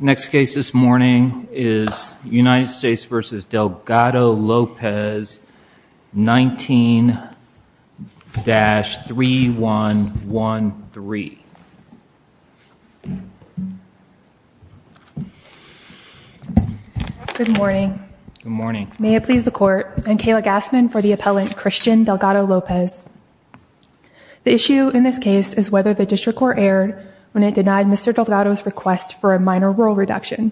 Next case this morning is United States v. Delgado-Lopez, 19-3113. Good morning. May it please the Court. I'm Kayla Gassman for the appellant Christian Delgado-Lopez. The issue in this case is whether the District Court erred when it denied Mr. Delgado's request for a minor role reduction.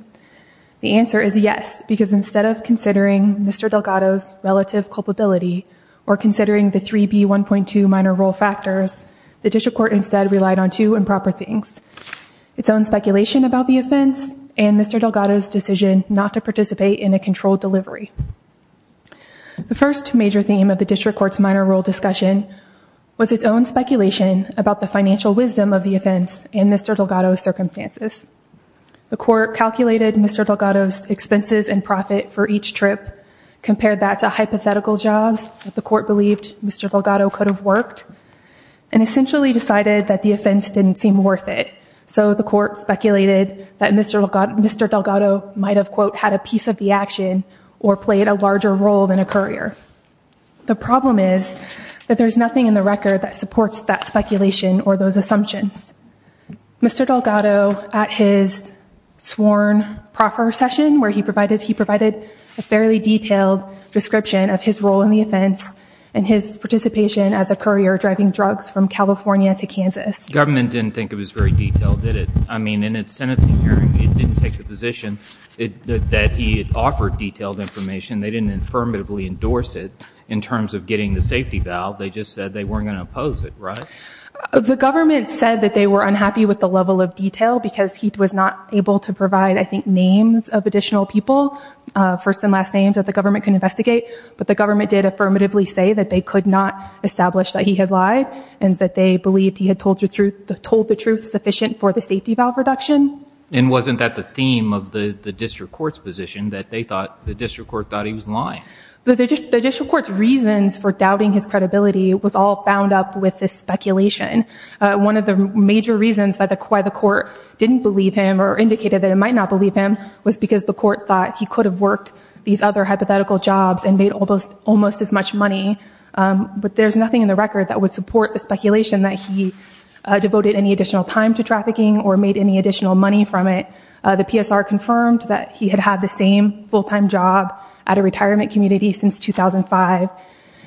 The answer is yes, because instead of considering Mr. Delgado's relative culpability or considering the 3B1.2 minor role factors, the District Court instead relied on two improper things, its own speculation about the offense and Mr. Delgado's decision not to participate in a controlled delivery. The first major theme of the District Court's minor role discussion was its own speculation about the financial wisdom of the offense and Mr. Delgado's circumstances. The Court calculated Mr. Delgado's expenses and profit for each trip, compared that to hypothetical jobs that the Court believed Mr. Delgado could have worked, and essentially decided that the offense didn't seem worth it. So the Court speculated that Mr. Delgado might have, quote, had a piece of the action or played a larger role than a courier. The problem is that there's nothing in the record that supports that speculation or those assumptions. Mr. Delgado, at his sworn proffer session where he provided, he provided a fairly detailed description of his role in the offense and his participation as a courier driving drugs from California to Kansas. The government didn't think it was very detailed, did it? I mean, in its sentencing hearing, it didn't take the position that he had offered detailed information. They didn't affirmatively endorse it in terms of getting the safety valve. They just said they weren't going to oppose it, right? The government said that they were unhappy with the level of detail because he was not able to provide, I think, names of additional people, first and last names that the government could investigate, but the government did affirmatively say that they could not establish that he had lied and that they believed he had told the truth sufficient for the safety valve reduction. And wasn't that the theme of the district court's position, that they thought, the district court thought he was lying? The district court's reasons for doubting his credibility was all bound up with this speculation. One of the major reasons why the court didn't believe him or indicated that it might not believe him was because the court thought he could have worked these other hypothetical jobs and made almost as much money, but there's nothing in the record that would support the speculation that he devoted any additional time to trafficking or made any additional money from it. The PSR confirmed that he had had the same full-time job at a retirement community since 2005,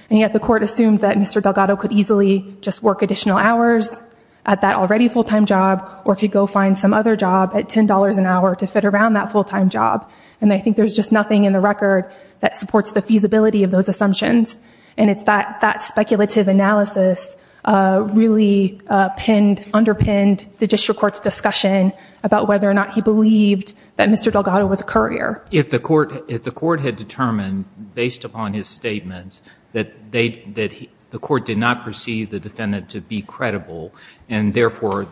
and yet the court assumed that Mr. Delgado could easily just work additional hours at that already full-time job or could go find some other job at $10 an hour to fit around that full-time job. And I think there's just nothing in the record that supports the feasibility of those assumptions, and it's that speculative analysis really underpinned the district court's discussion about whether or not he believed that Mr. Delgado was a courier. If the court had determined, based upon his statements, that the court did not perceive the defendant to be credible and therefore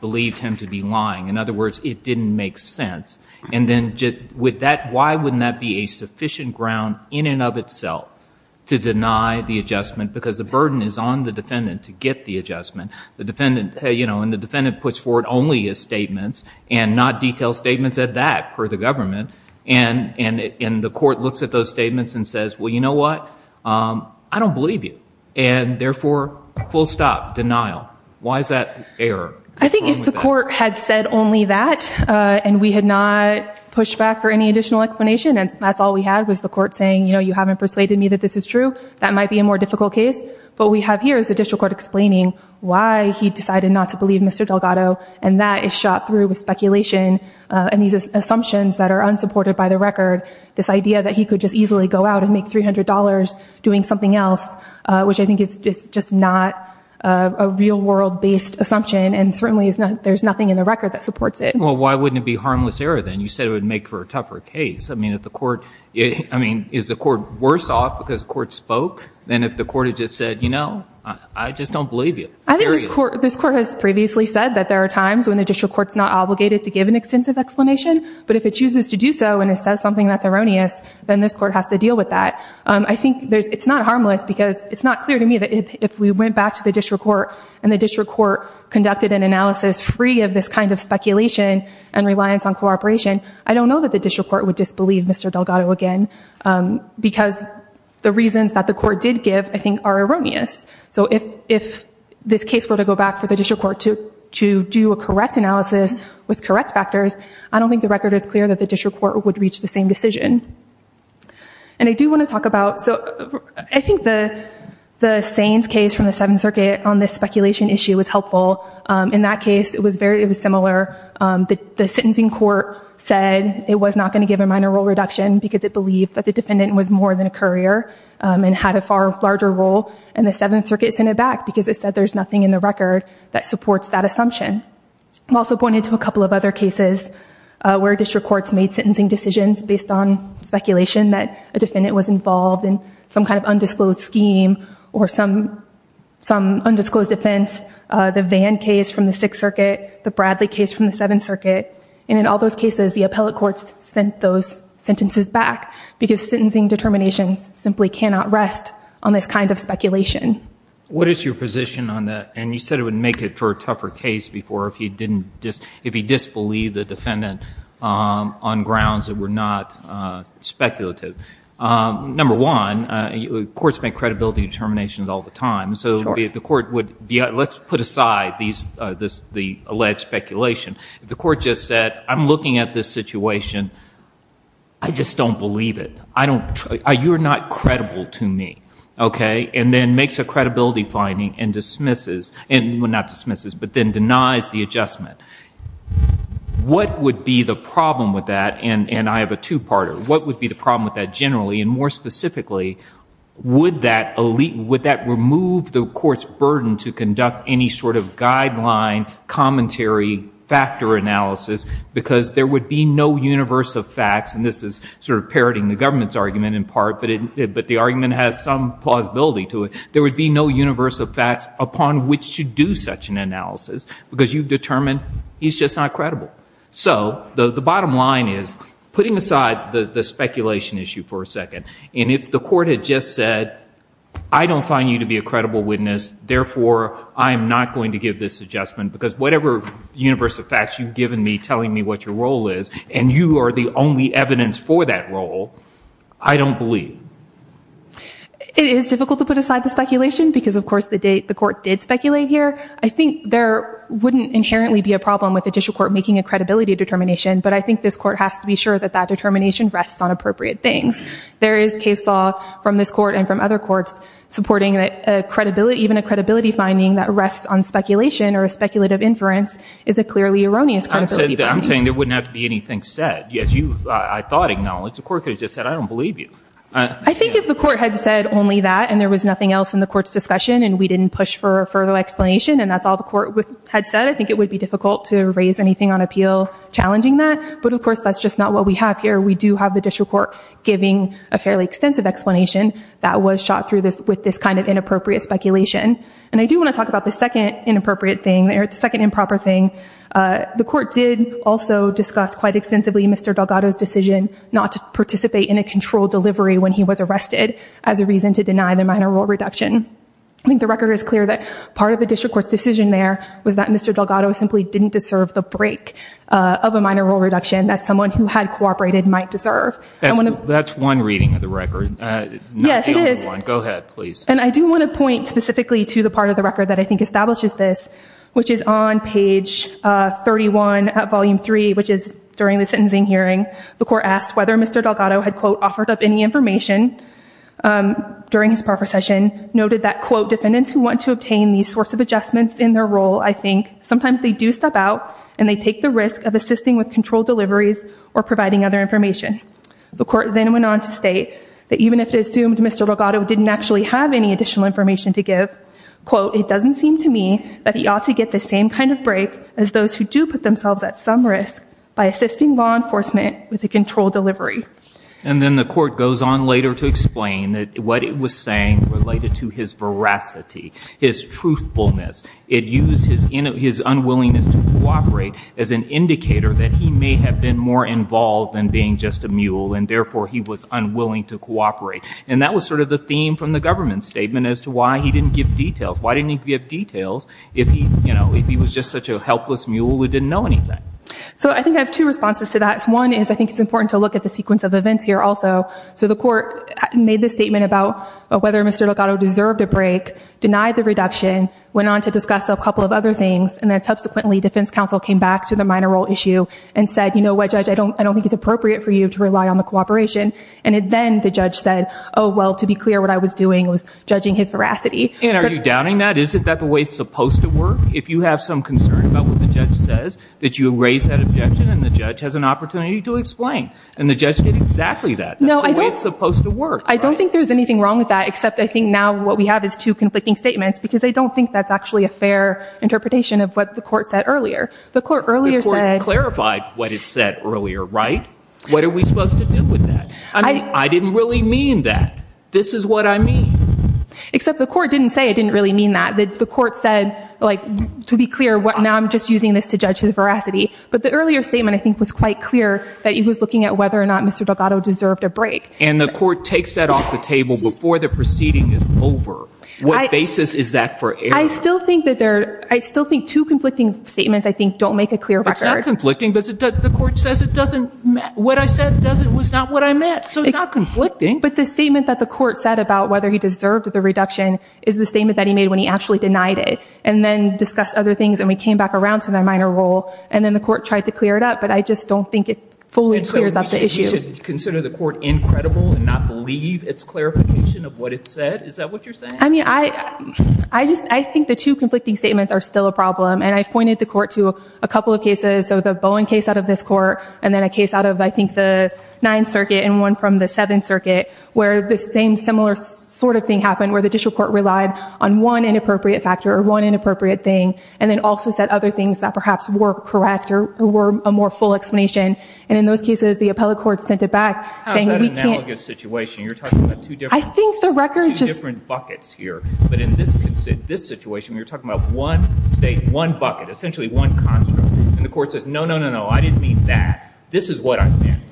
believed him to be lying, in other words, it didn't make sense, and then why wouldn't that be a sufficient ground in and of itself to deny the adjustment because the burden is on the defendant to get the adjustment, and the defendant puts forward only his statements and not detailed statements at that, per the government, and the court looks at those statements and says, well, you know what, I don't believe you, and therefore full stop, denial. Why is that error? I think if the court had said only that and we had not pushed back for any additional explanation and that's all we had was the court saying, you know, you haven't persuaded me that this is true, that might be a more difficult case. What we have here is the district court explaining why he decided not to believe Mr. Delgado, and that is shot through with speculation and these assumptions that are unsupported by the record, this idea that he could just easily go out and make $300 doing something else, which I think is just not a real world based assumption, and certainly there's nothing in the record that supports it. Well, why wouldn't it be harmless error then? You said it would make for a tougher case. I mean, is the court worse off because the court spoke than if the court had just said, you know, I just don't believe you, period. I think this court has previously said that there are times when the district court is not obligated to give an extensive explanation, but if it chooses to do so and it says something that's erroneous, then this court has to deal with that. I think it's not harmless because it's not clear to me that if we went back to the district court and the district court conducted an analysis free of this kind of speculation and reliance on cooperation, I don't know that the district court would disbelieve Mr. Delgado again because the reasons that the court did give, I think, are erroneous. So if this case were to go back for the district court to do a correct analysis with correct factors, I don't think the record is clear that the district court would reach the same decision. And I do want to talk about, so I think the Saines case from the Seventh Circuit on this speculation issue was helpful. In that case, it was similar. The sentencing court said it was not going to give a minor role reduction because it believed that the defendant was more than a courier and had a far larger role. And the Seventh Circuit sent it back because it said there's nothing in the record that supports that assumption. I'm also pointing to a couple of other cases where district courts made sentencing decisions based on speculation that a defendant was involved in some kind of undisclosed scheme or some undisclosed offense, the Vann case from the Sixth Circuit, the Bradley case from the Seventh Circuit. And in all those cases, the appellate courts sent those sentences back because sentencing determinations simply cannot rest on this kind of speculation. What is your position on that? And you said it would make it for a tougher case if he disbelieved the defendant on grounds that were not speculative. Number one, courts make credibility determinations all the time, so let's put aside the alleged speculation. The court just said, I'm looking at this situation. I just don't believe it. You're not credible to me, okay, and then makes a credibility finding and dismisses, well, not dismisses, but then denies the adjustment. What would be the problem with that? And I have a two-parter. What would be the problem with that generally, and more specifically, would that remove the court's burden to conduct any sort of guideline commentary factor analysis because there would be no universe of facts, and this is sort of parroting the government's argument in part, but the argument has some plausibility to it. There would be no universe of facts upon which to do such an analysis because you've determined he's just not credible. So the bottom line is, putting aside the speculation issue for a second, and if the court had just said, I don't find you to be a credible witness, therefore I'm not going to give this adjustment because whatever universe of facts you've given me telling me what your role is, and you are the only evidence for that role, I don't believe. It is difficult to put aside the speculation because, of course, the court did speculate here. I think there wouldn't inherently be a problem with a judicial court making a credibility determination, but I think this court has to be sure that that determination rests on appropriate things. There is case law from this court and from other courts supporting that even a credibility finding that rests on speculation or a speculative inference is a clearly erroneous credibility finding. I'm saying there wouldn't have to be anything said. Yes, I thought acknowledged. The court could have just said, I don't believe you. I think if the court had said only that and there was nothing else in the court's discussion and we didn't push for a further explanation and that's all the court had said, I think it would be difficult to raise anything on appeal challenging that. But, of course, that's just not what we have here. We do have the district court giving a fairly extensive explanation that was shot through with this kind of inappropriate speculation. And I do want to talk about the second improper thing. The court did also discuss quite extensively Mr. Delgado's decision not to participate in a controlled delivery when he was arrested as a reason to deny the minor role reduction. I think the record is clear that part of the district court's decision there was that Mr. Delgado simply didn't deserve the break of a minor role reduction that someone who had cooperated might deserve. That's one reading of the record. Yes, it is. Not the only one. Go ahead, please. And I do want to point specifically to the part of the record that I think establishes this, which is on page 31 at volume 3, which is during the sentencing hearing. The court asked whether Mr. Delgado had, quote, offered up any information during his procession, noted that, quote, defendants who want to obtain these sorts of adjustments in their role, I think, sometimes they do step out and they take the risk of assisting with controlled deliveries or providing other information. The court then went on to state that even if it assumed Mr. Delgado didn't actually have any additional information to give, quote, it doesn't seem to me that he ought to get the same kind of break as those who do put themselves at some risk by assisting law enforcement with a controlled delivery. And then the court goes on later to explain what it was saying related to his veracity, his truthfulness. It used his unwillingness to cooperate as an indicator that he may have been more involved than being just a mule, and therefore he was unwilling to cooperate. And that was sort of the theme from the government statement as to why he didn't give details. Why didn't he give details if he was just such a helpless mule who didn't know anything? So I think I have two responses to that. One is I think it's important to look at the sequence of events here also. So the court made the statement about whether Mr. Delgado deserved a break, denied the reduction, went on to discuss a couple of other things, and then subsequently defense counsel came back to the minor role issue and said, you know what, Judge, I don't think it's appropriate for you to rely on the cooperation. And then the judge said, oh, well, to be clear, what I was doing was judging his veracity. And are you doubting that? Is that the way it's supposed to work, if you have some concern about what the judge says, that you raise that objection and the judge has an opportunity to explain? And the judge did exactly that. No, I don't. That's the way it's supposed to work. I don't think there's anything wrong with that, except I think now what we have is two conflicting statements because I don't think that's actually a fair interpretation of what the court said earlier. The court earlier said – The court clarified what it said earlier, right? What are we supposed to do with that? I mean, I didn't really mean that. This is what I mean. Except the court didn't say it didn't really mean that. The court said, like, to be clear, now I'm just using this to judge his veracity. But the earlier statement, I think, was quite clear that it was looking at whether or not Mr. Delgado deserved a break. And the court takes that off the table before the proceeding is over. What basis is that for error? I still think two conflicting statements, I think, don't make a clear record. It's not conflicting, but the court says it doesn't – what I said was not what I meant. So it's not conflicting. But the statement that the court said about whether he deserved the reduction is the statement that he made when he actually denied it and then discussed other things and we came back around to that minor rule, and then the court tried to clear it up, but I just don't think it fully clears up the issue. Do you consider the court incredible and not believe its clarification of what it said? Is that what you're saying? I mean, I just – I think the two conflicting statements are still a problem. And I've pointed the court to a couple of cases, so the Bowen case out of this court and then a case out of, I think, the Ninth Circuit and one from the Seventh Circuit where the same similar sort of thing happened where the district court relied on one inappropriate factor or one inappropriate thing and then also said other things that perhaps were correct or were a more full explanation. And in those cases, the appellate court sent it back saying we can't – How is that an analogous situation? You're talking about two different buckets here. But in this situation, you're talking about one state, one bucket, essentially one construct. And the court says, no, no, no, no, I didn't mean that. This is what I meant.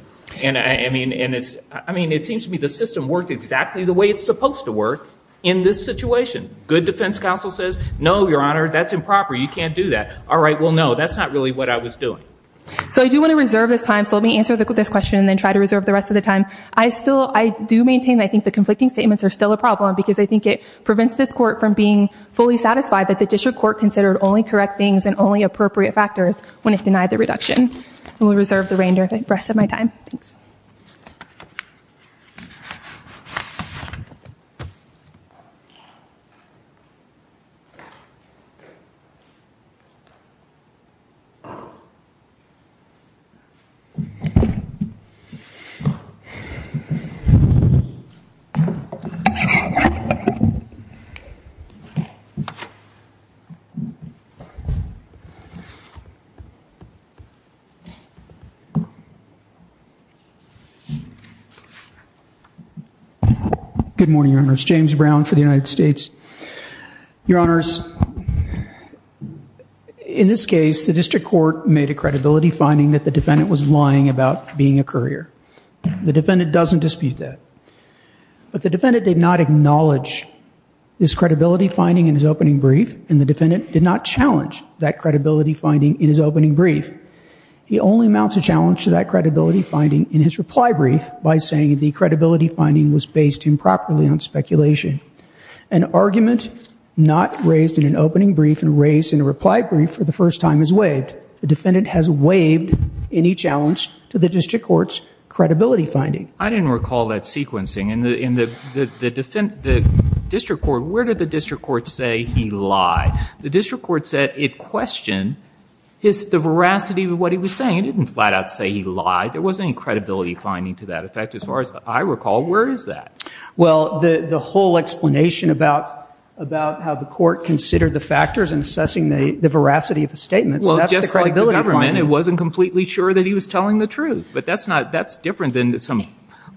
And I mean, it seems to me the system worked exactly the way it's supposed to work in this situation. Good defense counsel says, no, Your Honor, that's improper. You can't do that. All right, well, no, that's not really what I was doing. So I do want to reserve this time, so let me answer this question and then try to reserve the rest of the time. I do maintain that I think the conflicting statements are still a problem because I think it prevents this court from being fully satisfied that the district court considered only correct things and only appropriate factors when it denied the reduction. I will reserve the rest of my time. Thanks. Good morning, Your Honors. James Brown for the United States. Your Honors, in this case, the district court made a credibility finding that the defendant was lying about being a courier. The defendant doesn't dispute that. But the defendant did not acknowledge this credibility finding in his opening brief and the defendant did not challenge that credibility finding in his opening brief. He only mounts a challenge to that credibility finding in his reply brief by saying the credibility finding was based improperly on speculation. An argument not raised in an opening brief and raised in a reply brief for the first time is waived. The defendant has waived any challenge to the district court's credibility finding. I didn't recall that sequencing. In the district court, where did the district court say he lied? The district court said it questioned the veracity of what he was saying. It didn't flat out say he lied. There wasn't any credibility finding to that effect. As far as I recall, where is that? Well, the whole explanation about how the court considered the factors in assessing the veracity of the statement, so that's the credibility finding. Well, just like the government, it wasn't completely sure that he was telling the truth. But that's different than some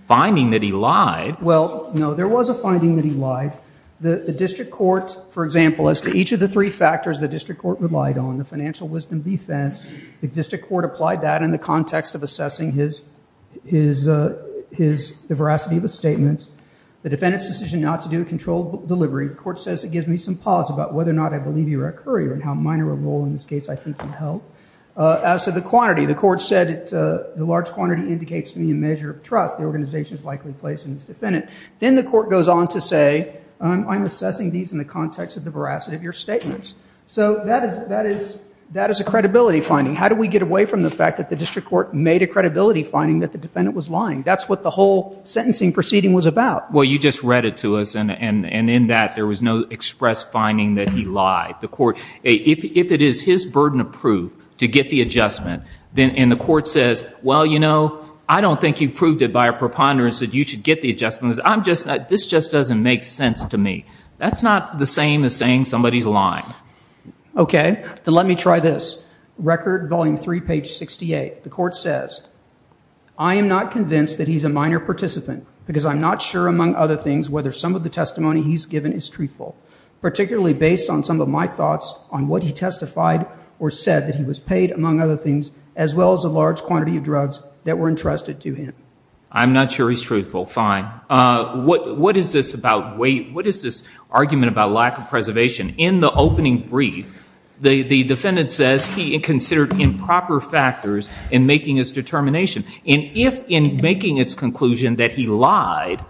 finding that he lied. Well, no, there was a finding that he lied. The district court, for example, as to each of the three factors the district court relied on, the financial wisdom defense, the district court applied that in the context of assessing his veracity of his statements. The defendant's decision not to do a controlled delivery, the court says it gives me some pause about whether or not I believe he were a courier and how minor a role in this case I think can help. As to the quantity, the court said, the large quantity indicates to me a measure of trust the organization is likely to place in its defendant. Then the court goes on to say, I'm assessing these in the context of the veracity of your statements. So that is a credibility finding. How do we get away from the fact that the district court made a credibility finding that the defendant was lying? That's what the whole sentencing proceeding was about. Well, you just read it to us, and in that there was no express finding that he lied. If it is his burden of proof to get the adjustment and the court says, well, you know, I don't think you proved it by a preponderance that you should get the adjustment and this just doesn't make sense to me. That's not the same as saying somebody's lying. Okay. Then let me try this. Record Volume 3, page 68. The court says, I am not convinced that he's a minor participant because I'm not sure, among other things, whether some of the testimony he's given is truthful, particularly based on some of my thoughts on what he testified or said that he was paid, among other things, as well as the large quantity of drugs that were entrusted to him. I'm not sure he's truthful. Fine. What is this about weight? What is this argument about lack of preservation? In the opening brief, the defendant says he considered improper factors in making his determination, and if in making its conclusion that he lied,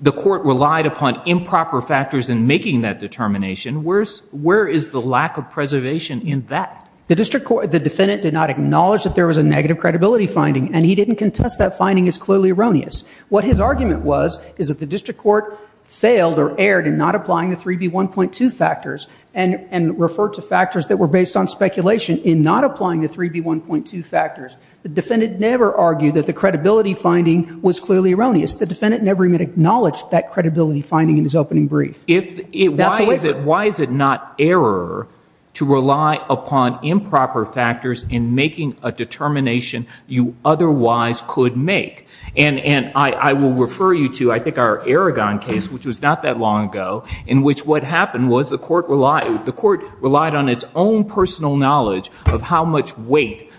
the court relied upon improper factors in making that determination, where is the lack of preservation in that? The defendant did not acknowledge that there was a negative credibility finding, and he didn't contest that finding as clearly erroneous. What his argument was is that the district court failed or erred in not applying the 3B1.2 factors and referred to factors that were based on speculation in not applying the 3B1.2 factors. The defendant never argued that the credibility finding was clearly erroneous. The defendant never even acknowledged that credibility finding in his opening brief. Why is it not error to rely upon improper factors in making a determination you otherwise could make? And I will refer you to, I think, our Aragon case, which was not that long ago, in which what happened was the court relied on its own personal knowledge of how much weight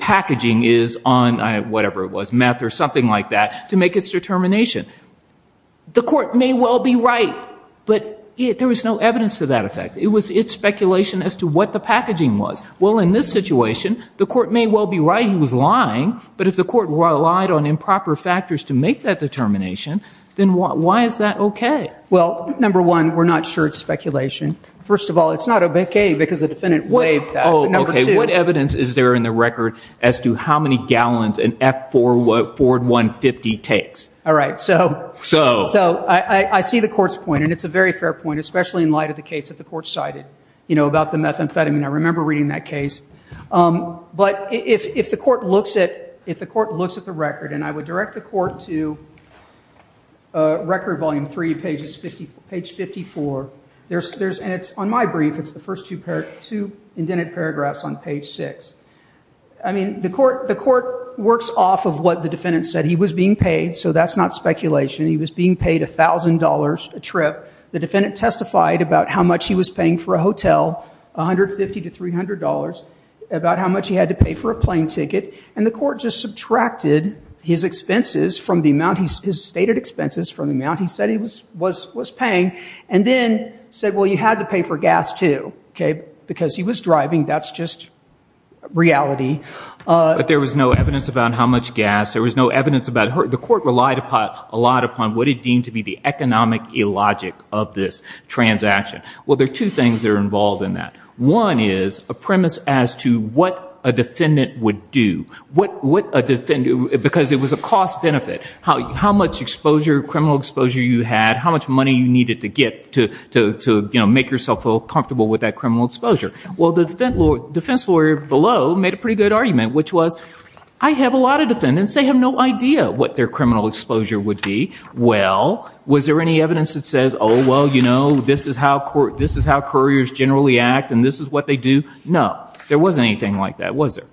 packaging is on whatever it was, meth or something like that, to make its determination. The court may well be right, but there was no evidence to that effect. It was its speculation as to what the packaging was. Well, in this situation, the court may well be right, he was lying, but if the court relied on improper factors to make that determination, then why is that okay? Well, number one, we're not sure it's speculation. First of all, it's not okay because the defendant waived that. Okay, what evidence is there in the record as to how many gallons an F-4 Ford 150 takes? All right, so I see the court's point, and it's a very fair point, especially in light of the case that the court cited about the methamphetamine. I remember reading that case. But if the court looks at the record, and I would direct the court to Record Volume 3, page 54. On my brief, it's the first two indented paragraphs on page 6. I mean, the court works off of what the defendant said. He was being paid, so that's not speculation. He was being paid $1,000 a trip. The defendant testified about how much he was paying for a hotel, $150 to $300, about how much he had to pay for a plane ticket. And the court just subtracted his expenses from the amount, his stated expenses from the amount he said he was paying, and then said, well, you had to pay for gas, too. Okay, because he was driving. That's just reality. But there was no evidence about how much gas. There was no evidence about her. The court relied a lot upon what it deemed to be the economic illogic of this transaction. Well, there are two things that are involved in that. One is a premise as to what a defendant would do. Because it was a cost-benefit. How much exposure, criminal exposure you had, how much money you needed to get to make yourself comfortable with that criminal exposure. Well, the defense lawyer below made a pretty good argument, which was, I have a lot of defendants. They have no idea what their criminal exposure would be. Well, was there any evidence that says, oh, well, you know, this is how couriers generally act and this is what they do? No. There wasn't anything like that, was there?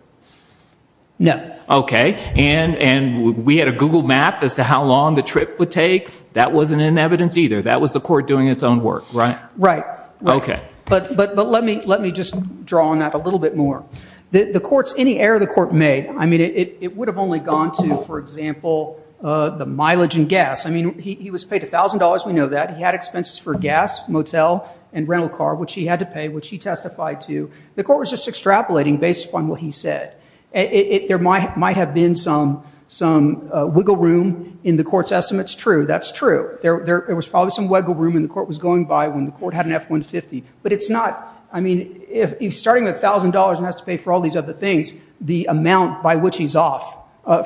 No. Okay. And we had a Google map as to how long the trip would take. That wasn't in evidence either. That was the court doing its own work, right? Right. Okay. But let me just draw on that a little bit more. The courts, any error the court made, I mean, it would have only gone to, for example, the mileage and gas. I mean, he was paid $1,000, we know that. He had expenses for gas, motel, and rental car, which he had to pay, which he testified to. The court was just extrapolating based upon what he said. There might have been some wiggle room in the court's estimates. True, that's true. There was probably some wiggle room in the court was going by when the court had an F-150. But it's not, I mean, if he's starting with $1,000 and has to pay for all these other things, the amount by which he's off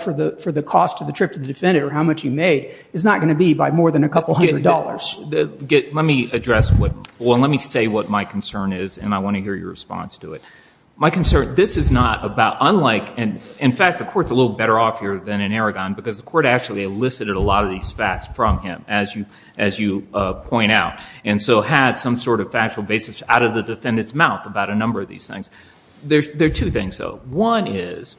for the cost of the trip to the defendant or how much he made is not going to be by more than a couple hundred dollars. Let me address what, well, let me say what my concern is, and I want to hear your response to it. My concern, this is not about unlike, in fact, the court's a little better off here than in Aragon because the court actually elicited a lot of these facts from him, as you point out, and so had some sort of factual basis out of the defendant's mouth about a number of these things. There are two things, though. One is,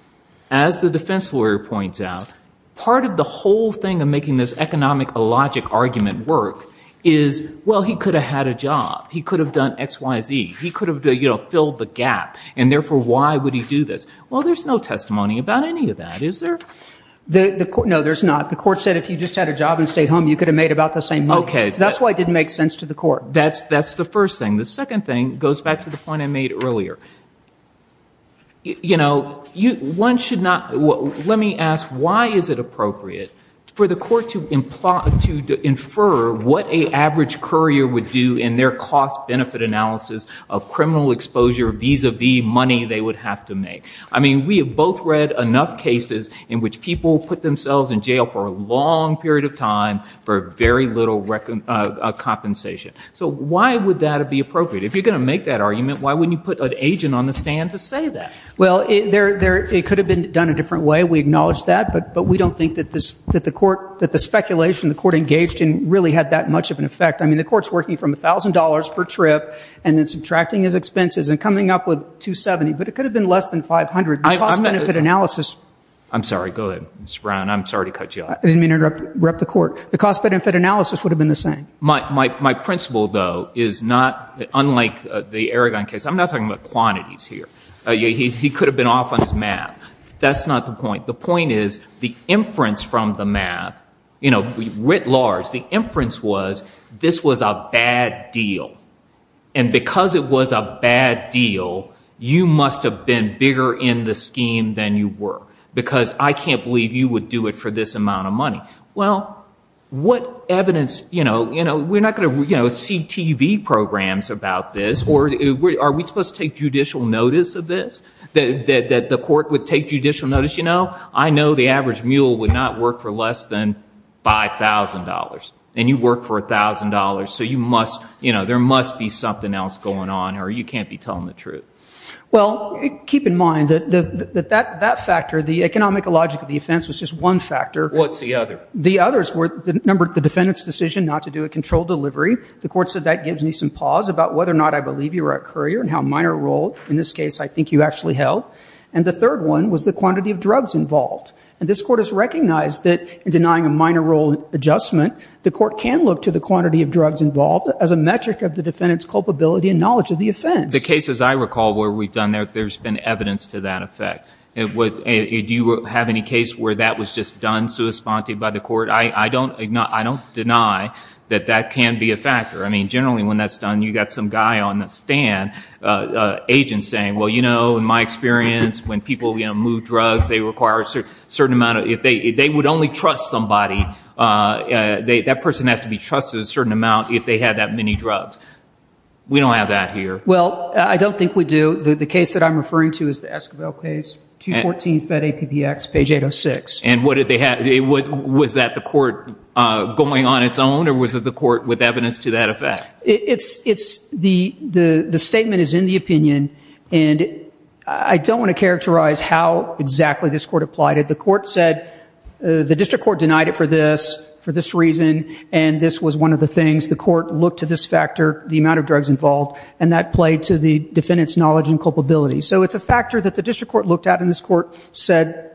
as the defense lawyer points out, part of the whole thing of making this economic logic argument work is, well, he could have had a job. He could have done X, Y, Z. He could have filled the gap, and therefore why would he do this? Well, there's no testimony about any of that, is there? No, there's not. The court said if he just had a job and stayed home, you could have made about the same money. Okay. That's why it didn't make sense to the court. That's the first thing. The second thing goes back to the point I made earlier. You know, one should not, let me ask, why is it appropriate for the court to infer what an average courier would do in their cost-benefit analysis of criminal exposure vis-a-vis money they would have to make? I mean, we have both read enough cases in which people put themselves in jail for a long period of time for very little compensation. So why would that be appropriate? If you're going to make that argument, why wouldn't you put an agent on the stand to say that? Well, it could have been done a different way. We acknowledge that. But we don't think that the speculation the court engaged in really had that much of an effect. I mean, the court's working from $1,000 per trip and then subtracting his expenses and coming up with $270. But it could have been less than $500. The cost-benefit analysis ---- I'm sorry. Go ahead, Mr. Brown. I'm sorry to cut you off. I didn't mean to interrupt the court. The cost-benefit analysis would have been the same. My principle, though, is not unlike the Aragon case. I'm not talking about quantities here. He could have been off on his math. That's not the point. The point is the inference from the math, you know, writ large, the inference was this was a bad deal. And because it was a bad deal, you must have been bigger in the scheme than you were because I can't believe you would do it for this amount of money. Well, what evidence, you know, we're not going to see TV programs about this. Are we supposed to take judicial notice of this, that the court would take judicial notice? You know, I know the average mule would not work for less than $5,000, and you work for $1,000, so there must be something else going on or you can't be telling the truth. Well, keep in mind that that factor, the economic logic of the offense was just one factor. What's the other? The others were the defendant's decision not to do a controlled delivery. The court said that gives me some pause about whether or not I believe you were a courier and how minor a role in this case I think you actually held. And the third one was the quantity of drugs involved. And this court has recognized that in denying a minor role adjustment, the court can look to the quantity of drugs involved as a metric of the defendant's culpability and knowledge of the offense. The cases I recall where we've done that, there's been evidence to that effect. Do you have any case where that was just done sui sponte by the court? I don't deny that that can be a factor. I mean, generally when that's done, you've got some guy on the stand, an agent saying, well, you know, in my experience, when people move drugs, they require a certain amount. They would only trust somebody. That person has to be trusted a certain amount if they have that many drugs. We don't have that here. Well, I don't think we do. The case that I'm referring to is the Esquivel case, 214 Fed APBX, page 806. And what did they have? Was that the court going on its own or was it the court with evidence to that effect? It's the statement is in the opinion, and I don't want to characterize how exactly this court applied it. The court said the district court denied it for this, for this reason, and this was one of the things. The court looked to this factor, the amount of drugs involved, and that played to the defendant's knowledge and culpability. So it's a factor that the district court looked at, and this court said,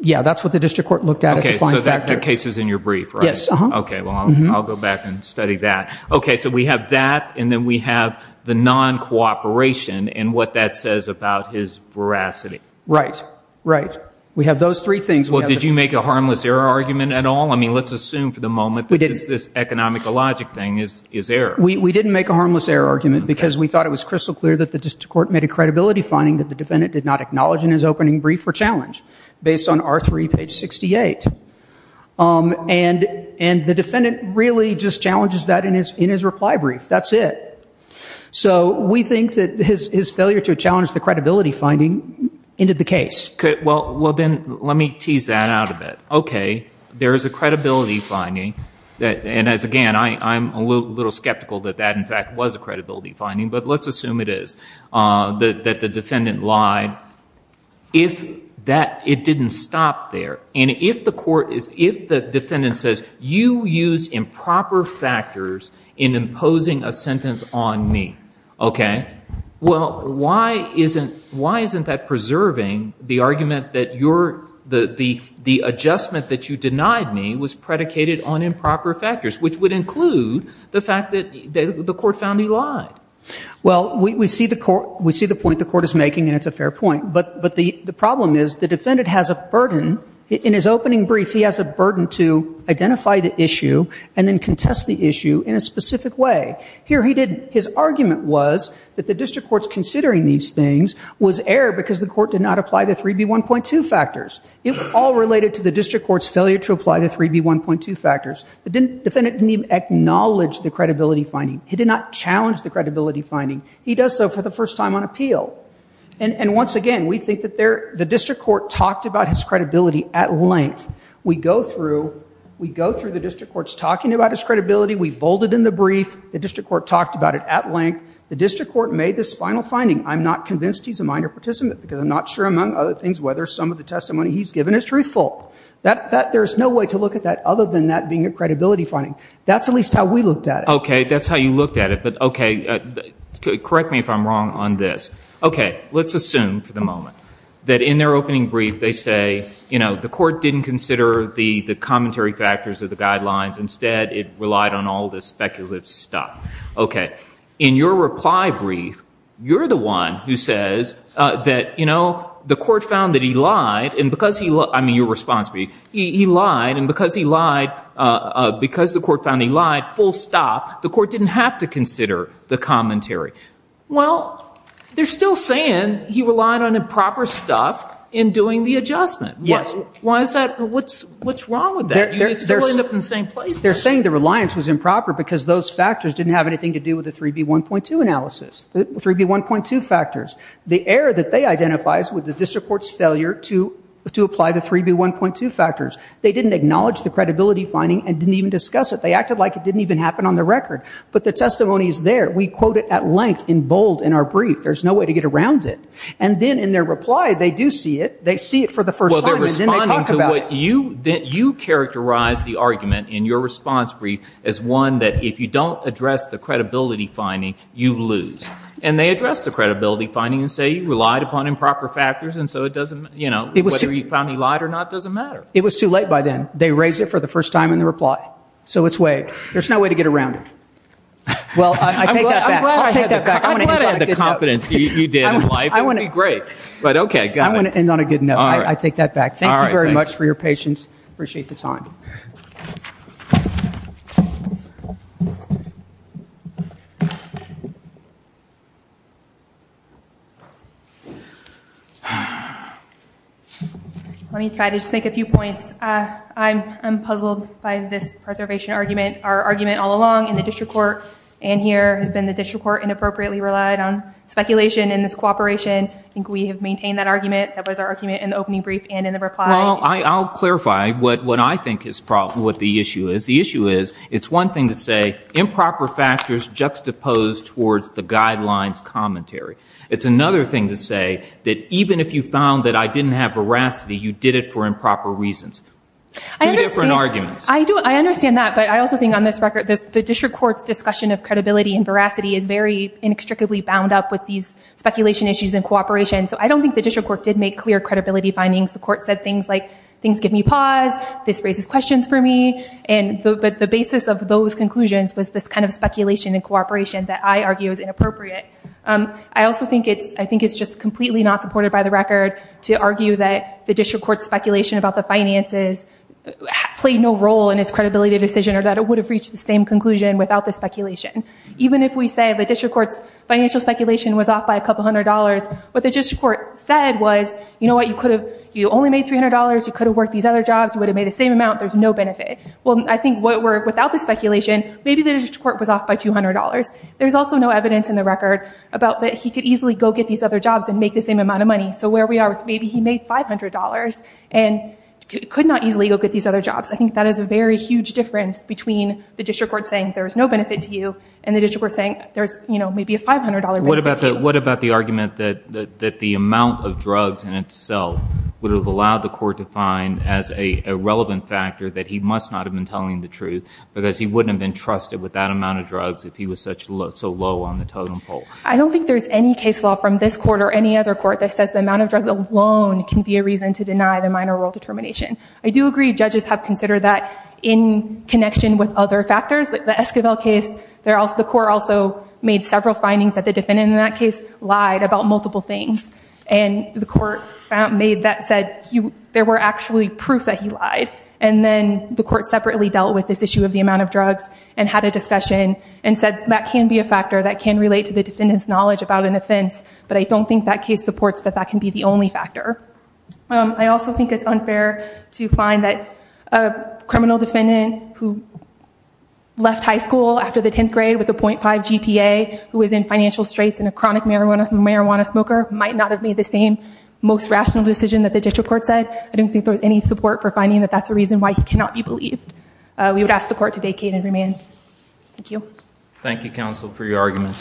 yeah, that's what the district court looked at as a fine factor. Okay, so that case is in your brief, right? Yes. Okay, well, I'll go back and study that. Okay, so we have that and then we have the non-cooperation and what that says about his veracity. Right, right. We have those three things. Well, did you make a harmless error argument at all? I mean, let's assume for the moment that this economicologic thing is error. We didn't make a harmless error argument because we thought it was crystal clear that the district court made a credibility finding that the defendant did not acknowledge in his opening brief or challenge, based on R3, page 68. And the defendant really just challenges that in his reply brief. That's it. So we think that his failure to challenge the credibility finding ended the case. Well, then let me tease that out a bit. Okay, there is a credibility finding, and, again, I'm a little skeptical that that, in fact, was a credibility finding, but let's assume it is, that the defendant lied. It didn't stop there. And if the defendant says, you use improper factors in imposing a sentence on me, okay, well, why isn't that preserving the argument that the adjustment that you denied me was predicated on improper factors, which would include the fact that the court found he lied? Well, we see the point the court is making, and it's a fair point, but the problem is the defendant has a burden. In his opening brief, he has a burden to identify the issue and then contest the issue in a specific way. Here, his argument was that the district court's considering these things was error because the court did not apply the 3B1.2 factors. It was all related to the district court's failure to apply the 3B1.2 factors. The defendant didn't even acknowledge the credibility finding. He did not challenge the credibility finding. He does so for the first time on appeal. And, once again, we think that the district court talked about his credibility at length. We go through the district court's talking about his credibility. We bolded in the brief. The district court talked about it at length. The district court made this final finding. I'm not convinced he's a minor participant because I'm not sure, among other things, whether some of the testimony he's given is truthful. There's no way to look at that other than that being a credibility finding. That's at least how we looked at it. Okay, that's how you looked at it. But, okay, correct me if I'm wrong on this. Okay, let's assume for the moment that, in their opening brief, they say, you know, the court didn't consider the commentary factors or the guidelines. Instead, it relied on all this speculative stuff. Okay. In your reply brief, you're the one who says that, you know, the court found that he lied, and because he lied, I mean your response would be he lied, and because he lied, because the court found he lied, full stop, the court didn't have to consider the commentary. Well, they're still saying he relied on improper stuff in doing the adjustment. Yes. Why is that? What's wrong with that? You could still end up in the same place. They're saying the reliance was improper because those factors didn't have anything to do with the 3B1.2 analysis, the 3B1.2 factors. The error that they identify is with the district court's failure to apply the 3B1.2 factors. They didn't acknowledge the credibility finding and didn't even discuss it. They acted like it didn't even happen on the record. But the testimony is there. We quote it at length in bold in our brief. There's no way to get around it. And then in their reply, they do see it. They see it for the first time, and then they talk about it. You characterize the argument in your response brief as one that if you don't address the credibility finding, you lose. And they address the credibility finding and say you relied upon improper factors, and so it doesn't, you know, whether you found he lied or not doesn't matter. It was too late by then. They raised it for the first time in the reply. So it's waived. There's no way to get around it. Well, I take that back. I'll take that back. I'm glad I had the confidence you did in life. It would be great. But, okay, got it. I want to end on a good note. I take that back. Thank you very much for your patience. Appreciate the time. Let me try to just make a few points. I'm puzzled by this preservation argument. Our argument all along in the district court and here has been the district court inappropriately relied on speculation in this cooperation. I think we have maintained that argument. That was our argument in the opening brief and in the reply. Well, I'll clarify what I think is what the issue is. The issue is it's one thing to say improper factors juxtaposed towards the guidelines commentary. It's another thing to say that even if you found that I didn't have veracity, you did it for improper reasons. Two different arguments. I understand that, but I also think on this record the district court's discussion of credibility and veracity is very inextricably bound up with these speculation issues and cooperation. So I don't think the district court did make clear credibility findings. The court said things like things give me pause. This raises questions for me. But the basis of those conclusions was this kind of speculation and cooperation that I argue is inappropriate. I also think it's just completely not supported by the record to argue that the district court's speculation about the finances played no role in its credibility decision or that it would have reached the same conclusion without the speculation. Even if we say the district court's financial speculation was off by a couple hundred dollars, what the district court said was, you know what, you only made $300. You could have worked these other jobs. You would have made the same amount. There's no benefit. Well, I think without the speculation, maybe the district court was off by $200. There's also no evidence in the record about that he could easily go get these other jobs and make the same amount of money. So where we are is maybe he made $500 and could not easily go get these other jobs. I think that is a very huge difference between the district court saying there's no benefit to you and the district court saying there's maybe a $500 benefit to you. What about the argument that the amount of drugs in itself would have allowed the court to find as a relevant factor that he must not have been telling the truth because he wouldn't have been trusted with that amount of drugs if he was so low on the totem pole? I don't think there's any case law from this court or any other court that says the amount of drugs alone can be a reason to deny the minor rule determination. I do agree judges have considered that in connection with other factors. The Esquivel case, the court also made several findings that the defendant in that case lied about multiple things. And the court said there were actually proof that he lied. And then the court separately dealt with this issue of the amount of drugs and had a discussion and said that can be a factor that can relate to the defendant's knowledge about an offense. But I don't think that case supports that that can be the only factor. I also think it's unfair to find that a criminal defendant who left high school after the 10th grade with a .5 GPA who was in financial straits and a chronic marijuana smoker might not have made the same most rational decision that the district court said. I don't think there's any support for finding that that's a reason why he cannot be believed. We would ask the court to vacate and remain. Thank you. Thank you, counsel, for your argument.